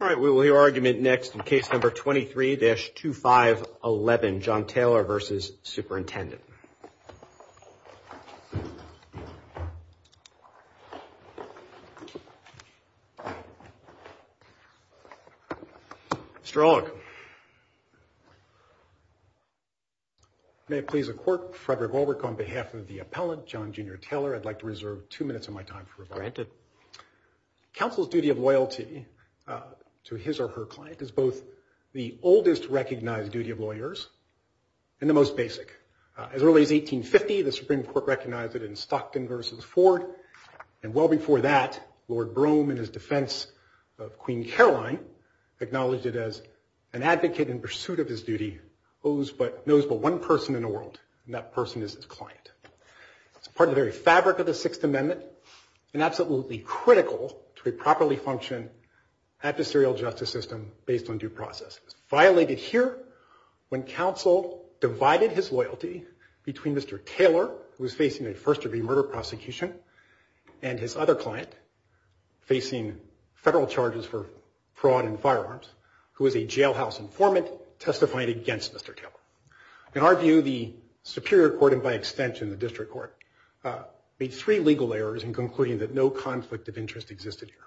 All right, we will hear argument next in case number 23-2511, John Taylor v. Superintendent. Mr. Orlick. May it please the Court, Frederick Warwick on behalf of the appellant, John Junior Taylor, I'd like to reserve two minutes of my time for rebuttal. Granted. Counsel's duty of loyalty to his or her client is both the oldest recognized duty of lawyers and the most basic. As early as 1850, the Supreme Court recognized it in Stockton v. Ford. And well before that, Lord Brougham, in his defense of Queen Caroline, acknowledged it as an advocate in pursuit of his duty, knows but one person in the world, and that person is his client. It's part of the very fabric of the Sixth Amendment and absolutely critical to a properly functioned adversarial justice system based on due process. It was violated here when counsel divided his loyalty between Mr. Taylor, who was facing a first-degree murder prosecution, and his other client, facing federal charges for fraud and firearms, who was a jailhouse informant testifying against Mr. Taylor. In our view, the Superior Court, and by extension the District Court, made three legal errors in concluding that no conflict of interest existed here.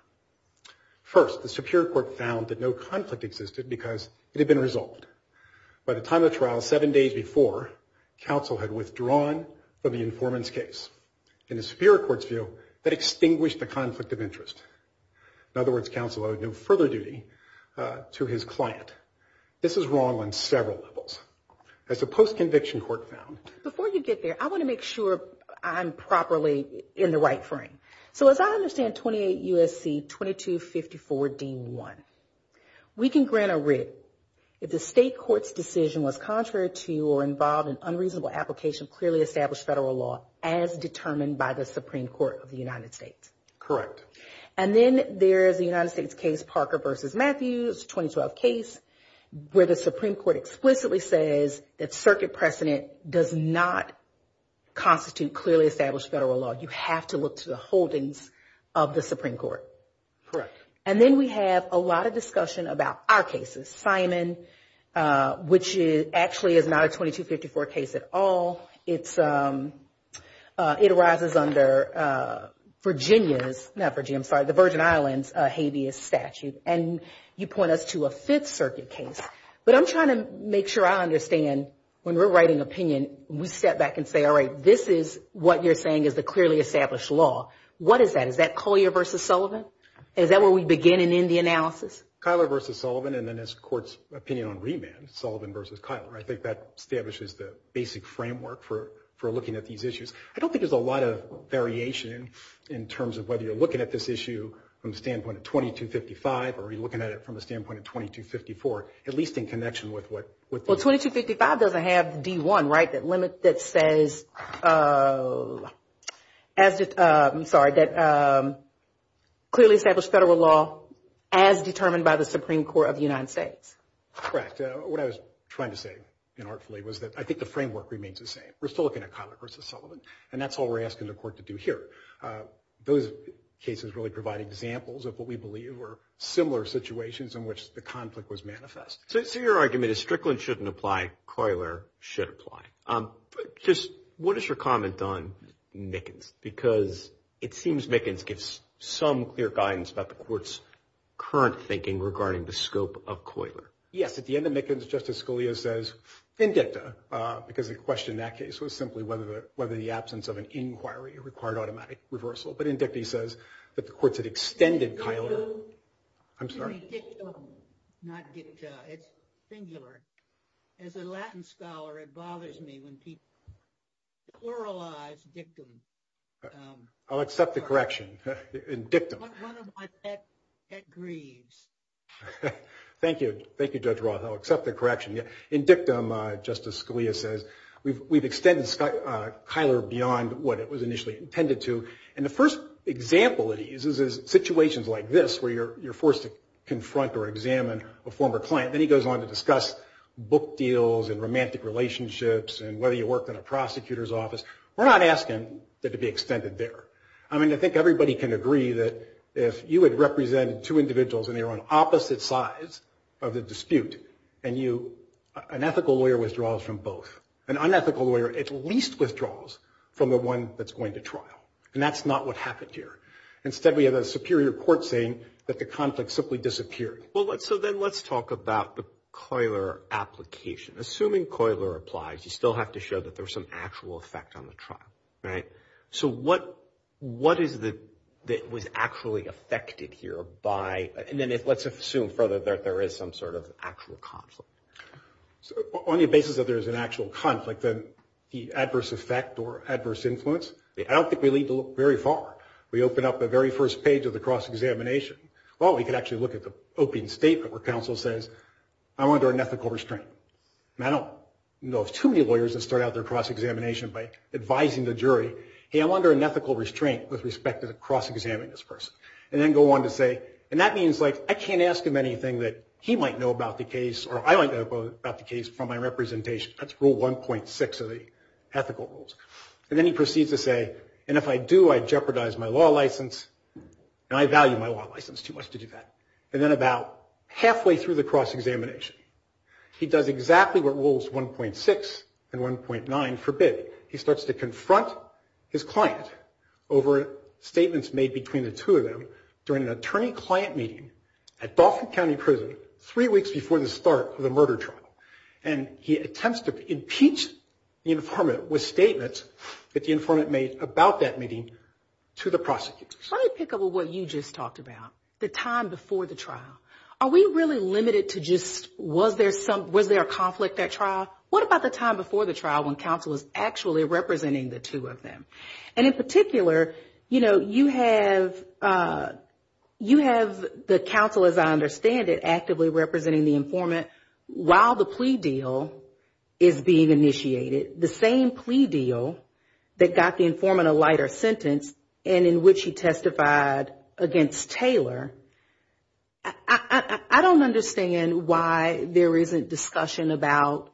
First, the Superior Court found that no conflict existed because it had been resolved. By the time of the trial, seven days before, counsel had withdrawn from the informant's case. In the Superior Court's view, that extinguished the conflict of interest. In other words, counsel owed no further duty to his client. This is wrong on several levels. As the post-conviction court found... Before you get there, I want to make sure I'm properly in the right frame. So as I understand 28 U.S.C. 2254 D.1, we can grant a writ if the state court's decision was contrary to or involved in unreasonable application of clearly established federal law as determined by the Supreme Court of the United States. Correct. And then there's the United States case Parker v. Matthews, 2012 case, where the Supreme Court explicitly says that circuit precedent does not constitute clearly established federal law. You have to look to the holdings of the Supreme Court. Correct. And then we have a lot of discussion about our cases. Simon, which actually is not a 2254 case at all. It arises under Virginia's, not Virginia, I'm sorry, the Virgin Islands habeas statute. And you point us to a Fifth Circuit case. But I'm trying to make sure I understand when we're writing opinion, we step back and say, all right, this is what you're saying is the clearly established law. What is that? Is that Collier v. Sullivan? Is that where we begin and end the analysis? Cuyler v. Sullivan and then this court's opinion on remand, Sullivan v. Cuyler. I think that establishes the basic framework for looking at these issues. I don't think there's a lot of variation in terms of whether you're looking at this issue from the standpoint of 2255 or are you looking at it from the standpoint of 2254, at least in connection with what the. Well, 2255 doesn't have D1, right, that limit that says, I'm sorry, that clearly established federal law as determined by the Supreme Court of the United States. Correct. What I was trying to say inartfully was that I think the framework remains the same. We're still looking at Cuyler v. Sullivan, and that's all we're asking the court to do here. Those cases really provide examples of what we believe are similar situations in which the conflict was manifest. So your argument is Strickland shouldn't apply, Cuyler should apply. Just what is your comment on Mickens? Because it seems Mickens gives some clear guidance about the court's current thinking regarding the scope of Cuyler. Yes. At the end of Mickens, Justice Scalia says in dicta, because the question in that case was simply whether the absence of an inquiry required automatic reversal. But in dicta he says that the courts had extended Cuyler. I'm sorry. Not dicta, it's singular. As a Latin scholar, it bothers me when people pluralize dictum. I'll accept the correction in dictum. One of my pet grieves. Thank you. Thank you, Judge Roth. I'll accept the correction. In dictum, Justice Scalia says, we've extended Cuyler beyond what it was initially intended to. And the first example that he uses is situations like this where you're forced to confront or examine a former client. Then he goes on to discuss book deals and romantic relationships and whether you worked in a prosecutor's office. We're not asking that it be extended there. I mean, I think everybody can agree that if you had represented two individuals and they were on opposite sides of the dispute, an ethical lawyer withdraws from both. An unethical lawyer at least withdraws from the one that's going to trial. And that's not what happened here. Instead, we have a superior court saying that the conflict simply disappeared. Well, so then let's talk about the Cuyler application. Assuming Cuyler applies, you still have to show that there was some actual effect on the trial, right? So what is the – that was actually affected here by – and then let's assume further that there is some sort of actual conflict. So on the basis that there is an actual conflict, then the adverse effect or adverse influence, I don't think we need to look very far. We open up the very first page of the cross-examination. Well, we could actually look at the opening statement where counsel says, I'm under unethical restraint. And I don't know of too many lawyers that start out their cross-examination by advising the jury, hey, I'm under unethical restraint with respect to cross-examining this person. And then go on to say – and that means, like, I can't ask him anything that he might know about the case or I might know about the case from my representation. That's rule 1.6 of the ethical rules. And then he proceeds to say, and if I do, I jeopardize my law license, and I value my law license too much to do that. And then about halfway through the cross-examination, he does exactly what rules 1.6 and 1.9 forbid. He starts to confront his client over statements made between the two of them during an attorney-client meeting at Balfour County Prison three weeks before the start of the murder trial. And he attempts to impeach the informant with statements that the informant made about that meeting to the prosecutor. Let me pick up on what you just talked about, the time before the trial. Are we really limited to just was there a conflict at trial? What about the time before the trial when counsel is actually representing the two of them? And in particular, you know, you have the counsel, as I understand it, actively representing the informant while the plea deal is being initiated, the same plea deal that got the informant a lighter sentence and in which he testified against Taylor. I don't understand why there isn't discussion about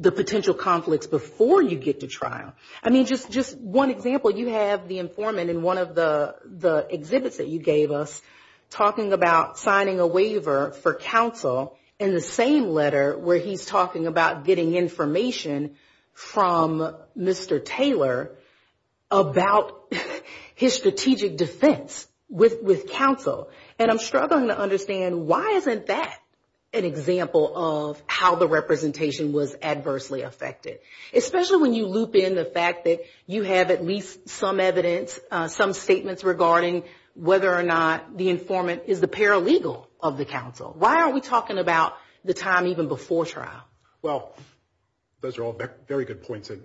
the potential conflicts before you get to trial. I mean, just one example, you have the informant in one of the exhibits that you gave us talking about signing a waiver for counsel in the same letter where he's talking about getting information from Mr. Taylor about his strategic defense with counsel, and I'm struggling to understand why isn't that an example of how the representation was adversely affected? Especially when you loop in the fact that you have at least some evidence, some statements regarding whether or not the informant is the paralegal of the counsel. Why aren't we talking about the time even before trial? Well, those are all very good points, and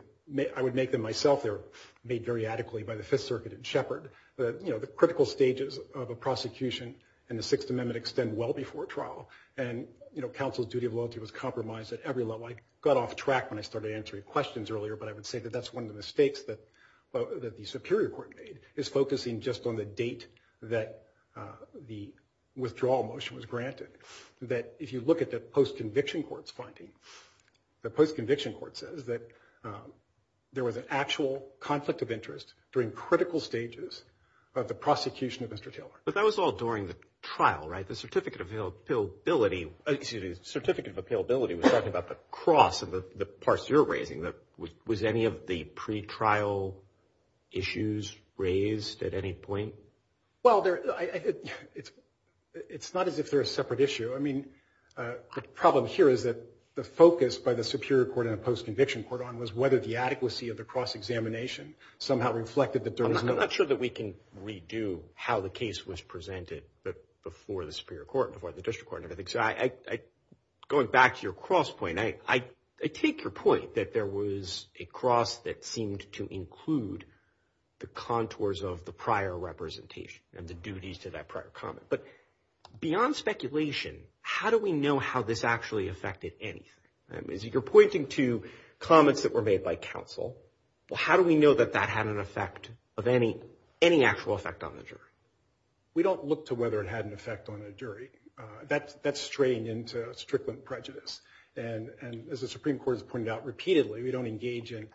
I would make them myself. They're made very adequately by the Fifth Circuit and Shepard. You know, the critical stages of a prosecution in the Sixth Amendment extend well before trial, and, you know, counsel's duty of loyalty was compromised at every level. I got off track when I started answering questions earlier, but I would say that that's one of the mistakes that the Superior Court made, is focusing just on the date that the withdrawal motion was granted. That if you look at the post-conviction court's finding, the post-conviction court says that there was an actual conflict of interest during critical stages of the prosecution of Mr. Taylor. But that was all during the trial, right? The Certificate of Appealability was talking about the cross of the parts you're raising. Was any of the pretrial issues raised at any point? Well, it's not as if they're a separate issue. I mean, the problem here is that the focus by the Superior Court and the post-conviction court on was whether the adequacy of the cross-examination somehow reflected that there was no... I'm not sure that we can redo how the case was presented before the Superior Court, before the District Court and everything. So going back to your cross point, I take your point that there was a cross that seemed to include the contours of the prior representation and the duties to that prior comment. But beyond speculation, how do we know how this actually affected anything? I mean, you're pointing to comments that were made by counsel. Well, how do we know that that had an effect of any actual effect on the jury? We don't look to whether it had an effect on a jury. That's straying into strickland prejudice. And as the Supreme Court has pointed out repeatedly, we don't engage in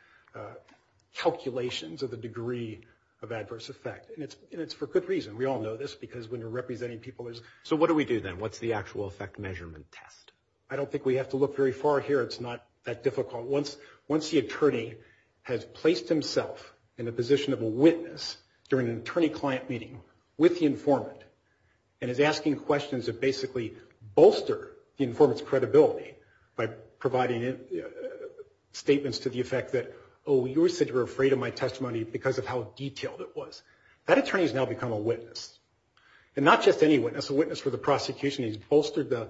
calculations of the degree of adverse effect. And it's for good reason. We all know this because when you're representing people, there's... So what do we do then? What's the actual effect measurement test? I don't think we have to look very far here. It's not that difficult. Once the attorney has placed himself in a position of a witness during an attorney-client meeting with the informant and is asking questions that basically bolster the informant's credibility by providing statements to the effect that, oh, you said you were afraid of my testimony because of how detailed it was. That attorney has now become a witness. And not just any witness, a witness for the prosecution. He's bolstered the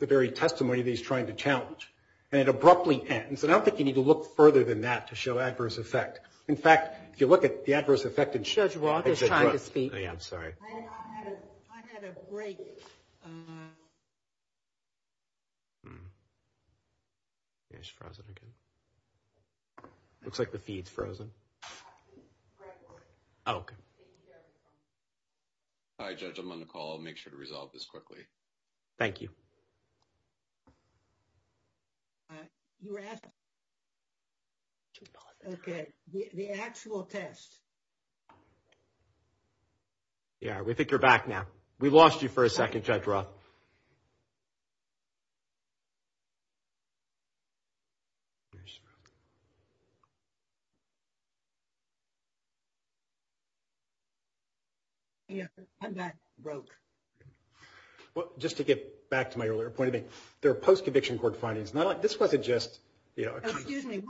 very testimony that he's trying to challenge. And it abruptly ends. And I don't think you need to look further than that to show adverse effect. In fact, if you look at the adverse effect... Judge Walker is trying to speak. Yeah, I'm sorry. I had a break. It's frozen again. It looks like the feed's frozen. Oh, okay. Hi, Judge. I'm on the call. I'll make sure to resolve this quickly. Thank you. You were asking... Okay, the actual test. Yeah, we think you're back now. We lost you for a second, Judge Roth. Yeah, I'm back. Broke. Well, just to get back to my earlier point, there are post-conviction court findings. This wasn't just... Excuse me,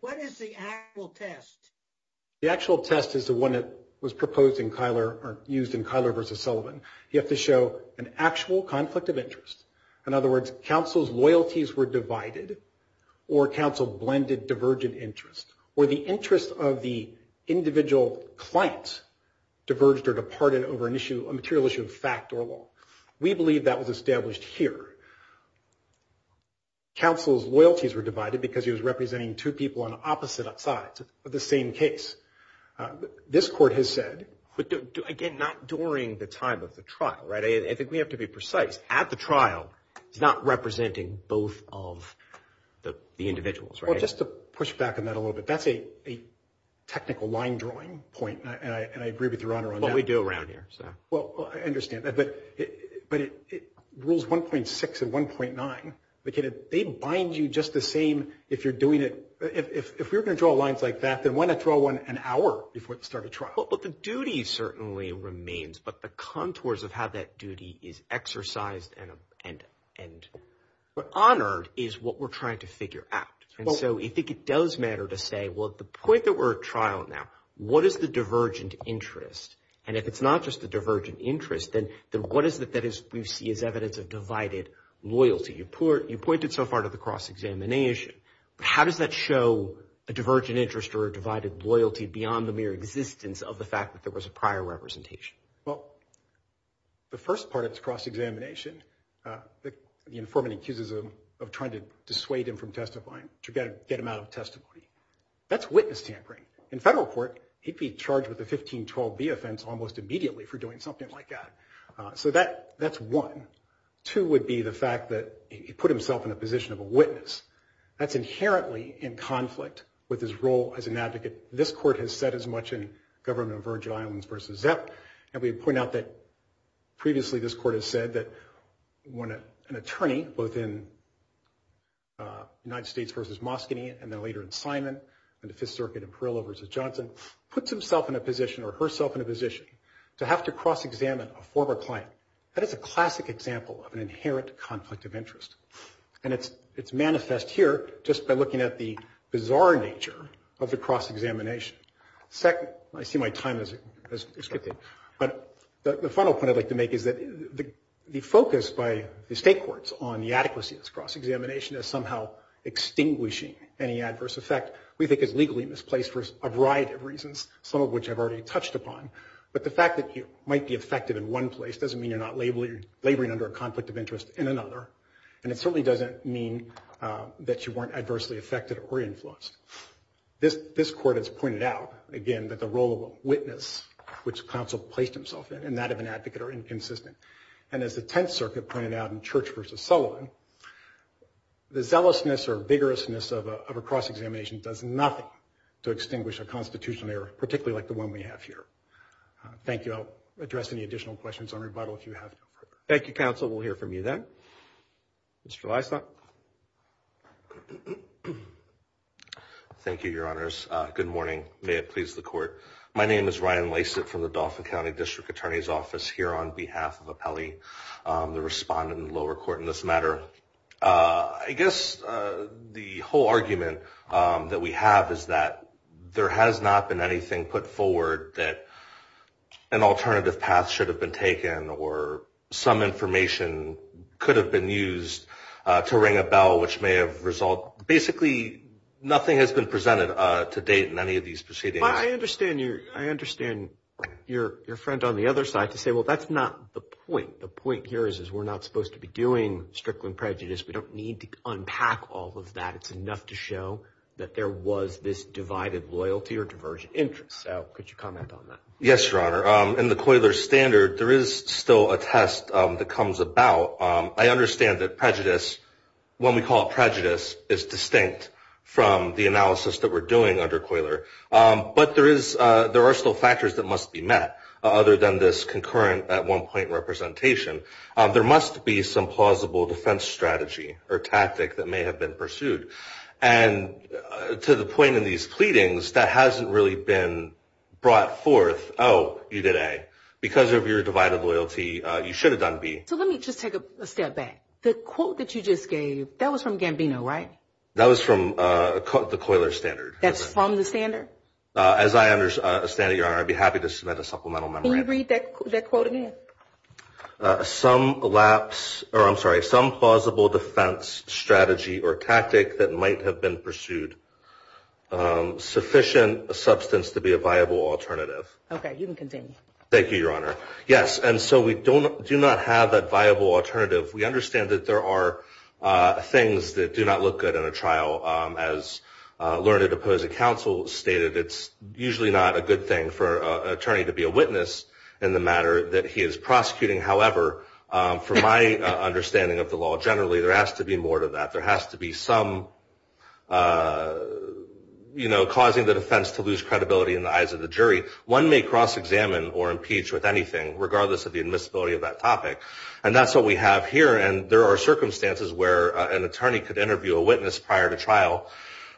what is the actual test? The actual test is the one that was proposed in Kyler or used in Kyler v. Sullivan. You have to show an actual conflict of interest. In other words, counsel's loyalties were divided or counsel blended divergent interests or the interests of the individual client diverged or departed over a material issue of fact or law. We believe that was established here. Counsel's loyalties were divided because he was representing two people on opposite sides of the same case. This court has said... But, again, not during the time of the trial, right? I think we have to be precise. At the trial, he's not representing both of the individuals, right? Well, just to push back on that a little bit, that's a technical line-drawing point, and I agree with Your Honor on that. Well, we do around here, so... Well, I understand that, but rules 1.6 and 1.9, they bind you just the same if you're doing it... If we were going to draw lines like that, then why not draw one an hour before the start of trial? But the duty certainly remains, but the contours of how that duty is exercised and honored is what we're trying to figure out. And so I think it does matter to say, well, at the point that we're at trial now, what is the divergent interest? And if it's not just a divergent interest, then what is it that we see as evidence of divided loyalty? You pointed so far to the cross-examination. How does that show a divergent interest or a divided loyalty beyond the mere existence of the fact that there was a prior representation? Well, the first part of the cross-examination, the informant accuses him of trying to dissuade him from testifying, to get him out of testimony. That's witness tampering. In federal court, he'd be charged with a 1512B offense almost immediately for doing something like that. So that's one. Two would be the fact that he put himself in a position of a witness. That's inherently in conflict with his role as an advocate. This court has said as much in Government of Virgin Islands v. Zepp. And we point out that previously this court has said that when an attorney, both in United States v. Moscone and then later in Simon and the Fifth Circuit in Perillo v. Johnson, puts himself in a position or herself in a position to have to cross-examine a former client, that is a classic example of an inherent conflict of interest. And it's manifest here just by looking at the bizarre nature of the cross-examination. Second, I see my time has skipped it. But the final point I'd like to make is that the focus by the state courts on the adequacy of this cross-examination is somehow extinguishing any adverse effect. We think it's legally misplaced for a variety of reasons, some of which I've already touched upon. But the fact that you might be affected in one place doesn't mean you're not laboring under a conflict of interest in another. And it certainly doesn't mean that you weren't adversely affected or influenced. This court has pointed out, again, that the role of a witness, which counsel placed himself in, and that of an advocate are inconsistent. And as the Tenth Circuit pointed out in Church v. Sullivan, the zealousness or vigorousness of a cross-examination does nothing to extinguish a constitutional error, particularly like the one we have here. Thank you. I'll address any additional questions on rebuttal if you have them. Thank you, counsel. We'll hear from you then. Mr. Lysak. Thank you, Your Honors. Good morning. May it please the Court. My name is Ryan Lysak from the Dauphin County District Attorney's Office here on behalf of Apelli, the respondent in the lower court in this matter. I guess the whole argument that we have is that there has not been anything put forward that an alternative path should have been taken or some information could have been used to ring a bell, which may have resulted. Basically, nothing has been presented to date in any of these proceedings. But I understand your friend on the other side to say, well, that's not the point. The point here is we're not supposed to be doing strickling prejudice. We don't need to unpack all of that. It's enough to show that there was this divided loyalty or divergent interest. So could you comment on that? Yes, Your Honor. In the Coiler Standard, there is still a test that comes about. I understand that prejudice, when we call it prejudice, is distinct from the analysis that we're doing under Coiler. But there are still factors that must be met, other than this concurrent at-one-point representation. There must be some plausible defense strategy or tactic that may have been pursued. And to the point in these pleadings that hasn't really been brought forth, oh, you did A. Because of your divided loyalty, you should have done B. So let me just take a step back. The quote that you just gave, that was from Gambino, right? That was from the Coiler Standard. That's from the standard? As I understand it, Your Honor, I'd be happy to submit a supplemental memorandum. Can you read that quote again? Some lapse or, I'm sorry, some plausible defense strategy or tactic that might have been pursued. Sufficient substance to be a viable alternative. Okay, you can continue. Thank you, Your Honor. Yes, and so we do not have that viable alternative. We understand that there are things that do not look good in a trial. As Learned Opposing Counsel stated, it's usually not a good thing for an attorney to be a witness in the matter that he is prosecuting. However, from my understanding of the law generally, there has to be more to that. There has to be some, you know, causing the defense to lose credibility in the eyes of the jury. One may cross-examine or impeach with anything, regardless of the admissibility of that topic. And that's what we have here. And there are circumstances where an attorney could interview a witness prior to trial,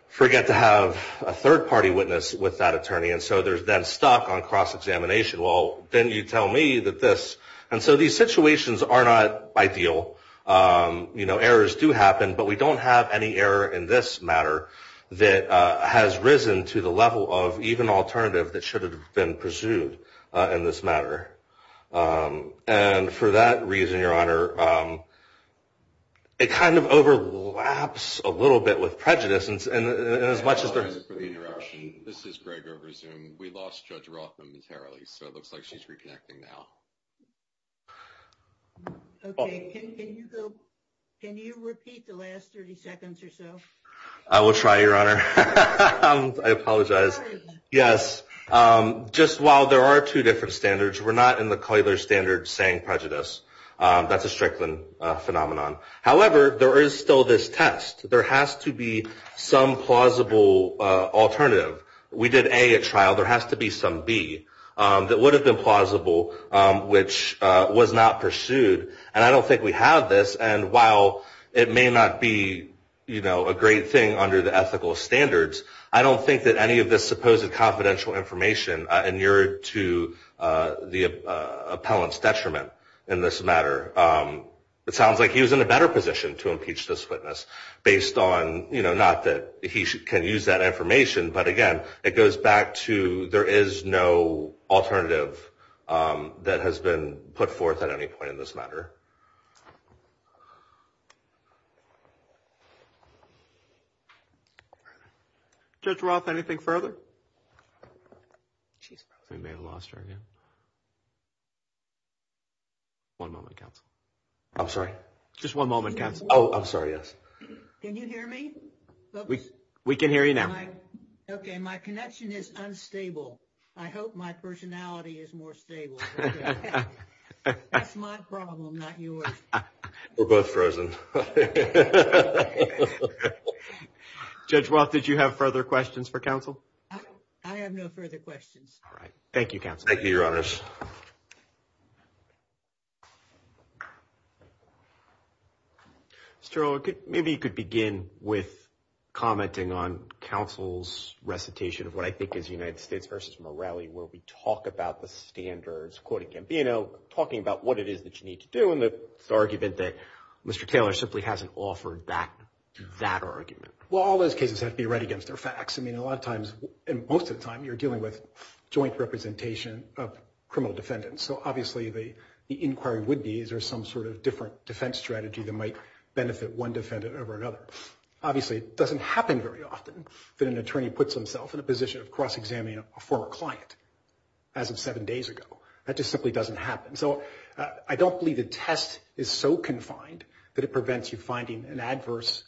forget to have a third-party witness with that attorney. And so there's then stock on cross-examination. Well, then you tell me that this. And so these situations are not ideal. You know, errors do happen. But we don't have any error in this matter that has risen to the level of even alternative that should have been pursued in this matter. And for that reason, Your Honor, it kind of overlaps a little bit with prejudice. And as much as there's. I apologize for the interruption. This is Greg over Zoom. We lost Judge Rothman materially. So it looks like she's reconnecting now. Can you repeat the last 30 seconds or so? I will try, Your Honor. I apologize. Yes. Just while there are two different standards, we're not in the standard saying prejudice. That's a Strickland phenomenon. However, there is still this test. There has to be some plausible alternative. We did a trial. There has to be some B that would have been plausible, which was not pursued. And I don't think we have this. And while it may not be, you know, a great thing under the ethical standards, I don't think that any of this supposed confidential information inured to the appellant's detriment in this matter. It sounds like he was in a better position to impeach this witness based on, you know, not that he can use that information. But, again, it goes back to there is no alternative that has been put forth at any point in this matter. Judge Roth, anything further? We may have lost her again. One moment, counsel. I'm sorry? Just one moment, counsel. Oh, I'm sorry, yes. Can you hear me? We can hear you now. Okay, my connection is unstable. I hope my personality is more stable. That's my problem, not yours. We're both frozen. Judge Roth, did you have further questions for counsel? I have no further questions. All right. Thank you, counsel. Thank you, your honors. Mr. O'Rourke, maybe you could begin with commenting on counsel's recitation of what I think is United States v. Morelli where we talk about the standards, quoting Gambino, talking about what it is that you need to do and the argument that Mr. Taylor simply hasn't offered that argument. Well, all those cases have to be read against their facts. I mean, a lot of times, most of the time, you're dealing with joint representation of criminal defendants. So, obviously, the inquiry would be is there some sort of different defense strategy that might benefit one defendant over another. Obviously, it doesn't happen very often that an attorney puts himself in a position of cross-examining a former client as of seven days ago. That just simply doesn't happen. So I don't believe the test is so confined that it prevents you finding an adverse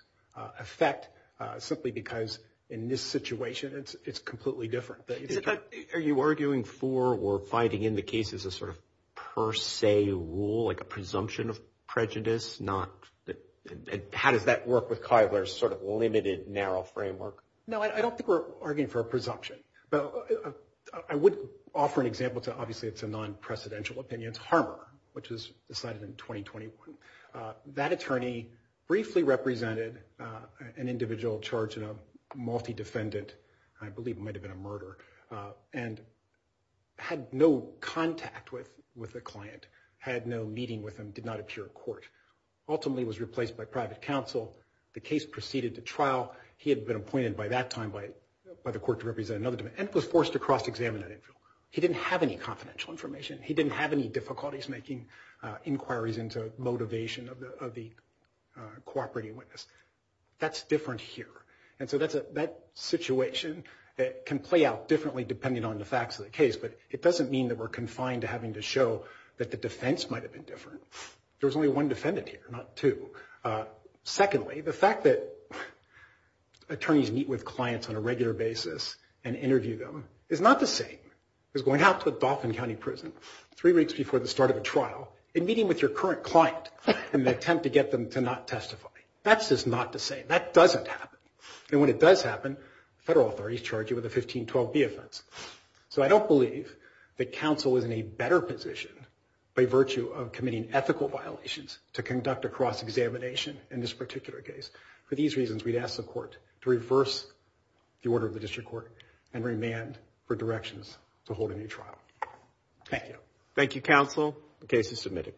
effect simply because in this situation it's completely different. Are you arguing for or fighting in the case as a sort of per se rule, like a presumption of prejudice? How does that work with Kyler's sort of limited, narrow framework? No, I don't think we're arguing for a presumption. I would offer an example to, obviously, it's a non-precedential opinion. It's Harmer, which was decided in 2021. That attorney briefly represented an individual charged in a multi-defendant, I believe it might have been a murder, and had no contact with a client, had no meeting with him, did not appear in court. Ultimately, was replaced by private counsel. The case proceeded to trial. He had been appointed by that time by the court to represent another defendant, and was forced to cross-examine that individual. He didn't have any confidential information. He didn't have any difficulties making inquiries into motivation of the cooperating witness. That's different here. And so that situation can play out differently depending on the facts of the case. But it doesn't mean that we're confined to having to show that the defense might have been different. There was only one defendant here, not two. Secondly, the fact that attorneys meet with clients on a regular basis and interview them is not the same as going out to a Dauphin County prison three weeks before the start of a trial and meeting with your current client in an attempt to get them to not testify. That's just not the same. That doesn't happen. And when it does happen, federal authorities charge you with a 1512B offense. So I don't believe that counsel is in a better position by virtue of committing ethical violations to conduct a cross-examination in this particular case. For these reasons, we'd ask the court to reverse the order of the district court and remand for directions to hold a new trial. Thank you. Thank you, counsel. The case is submitted.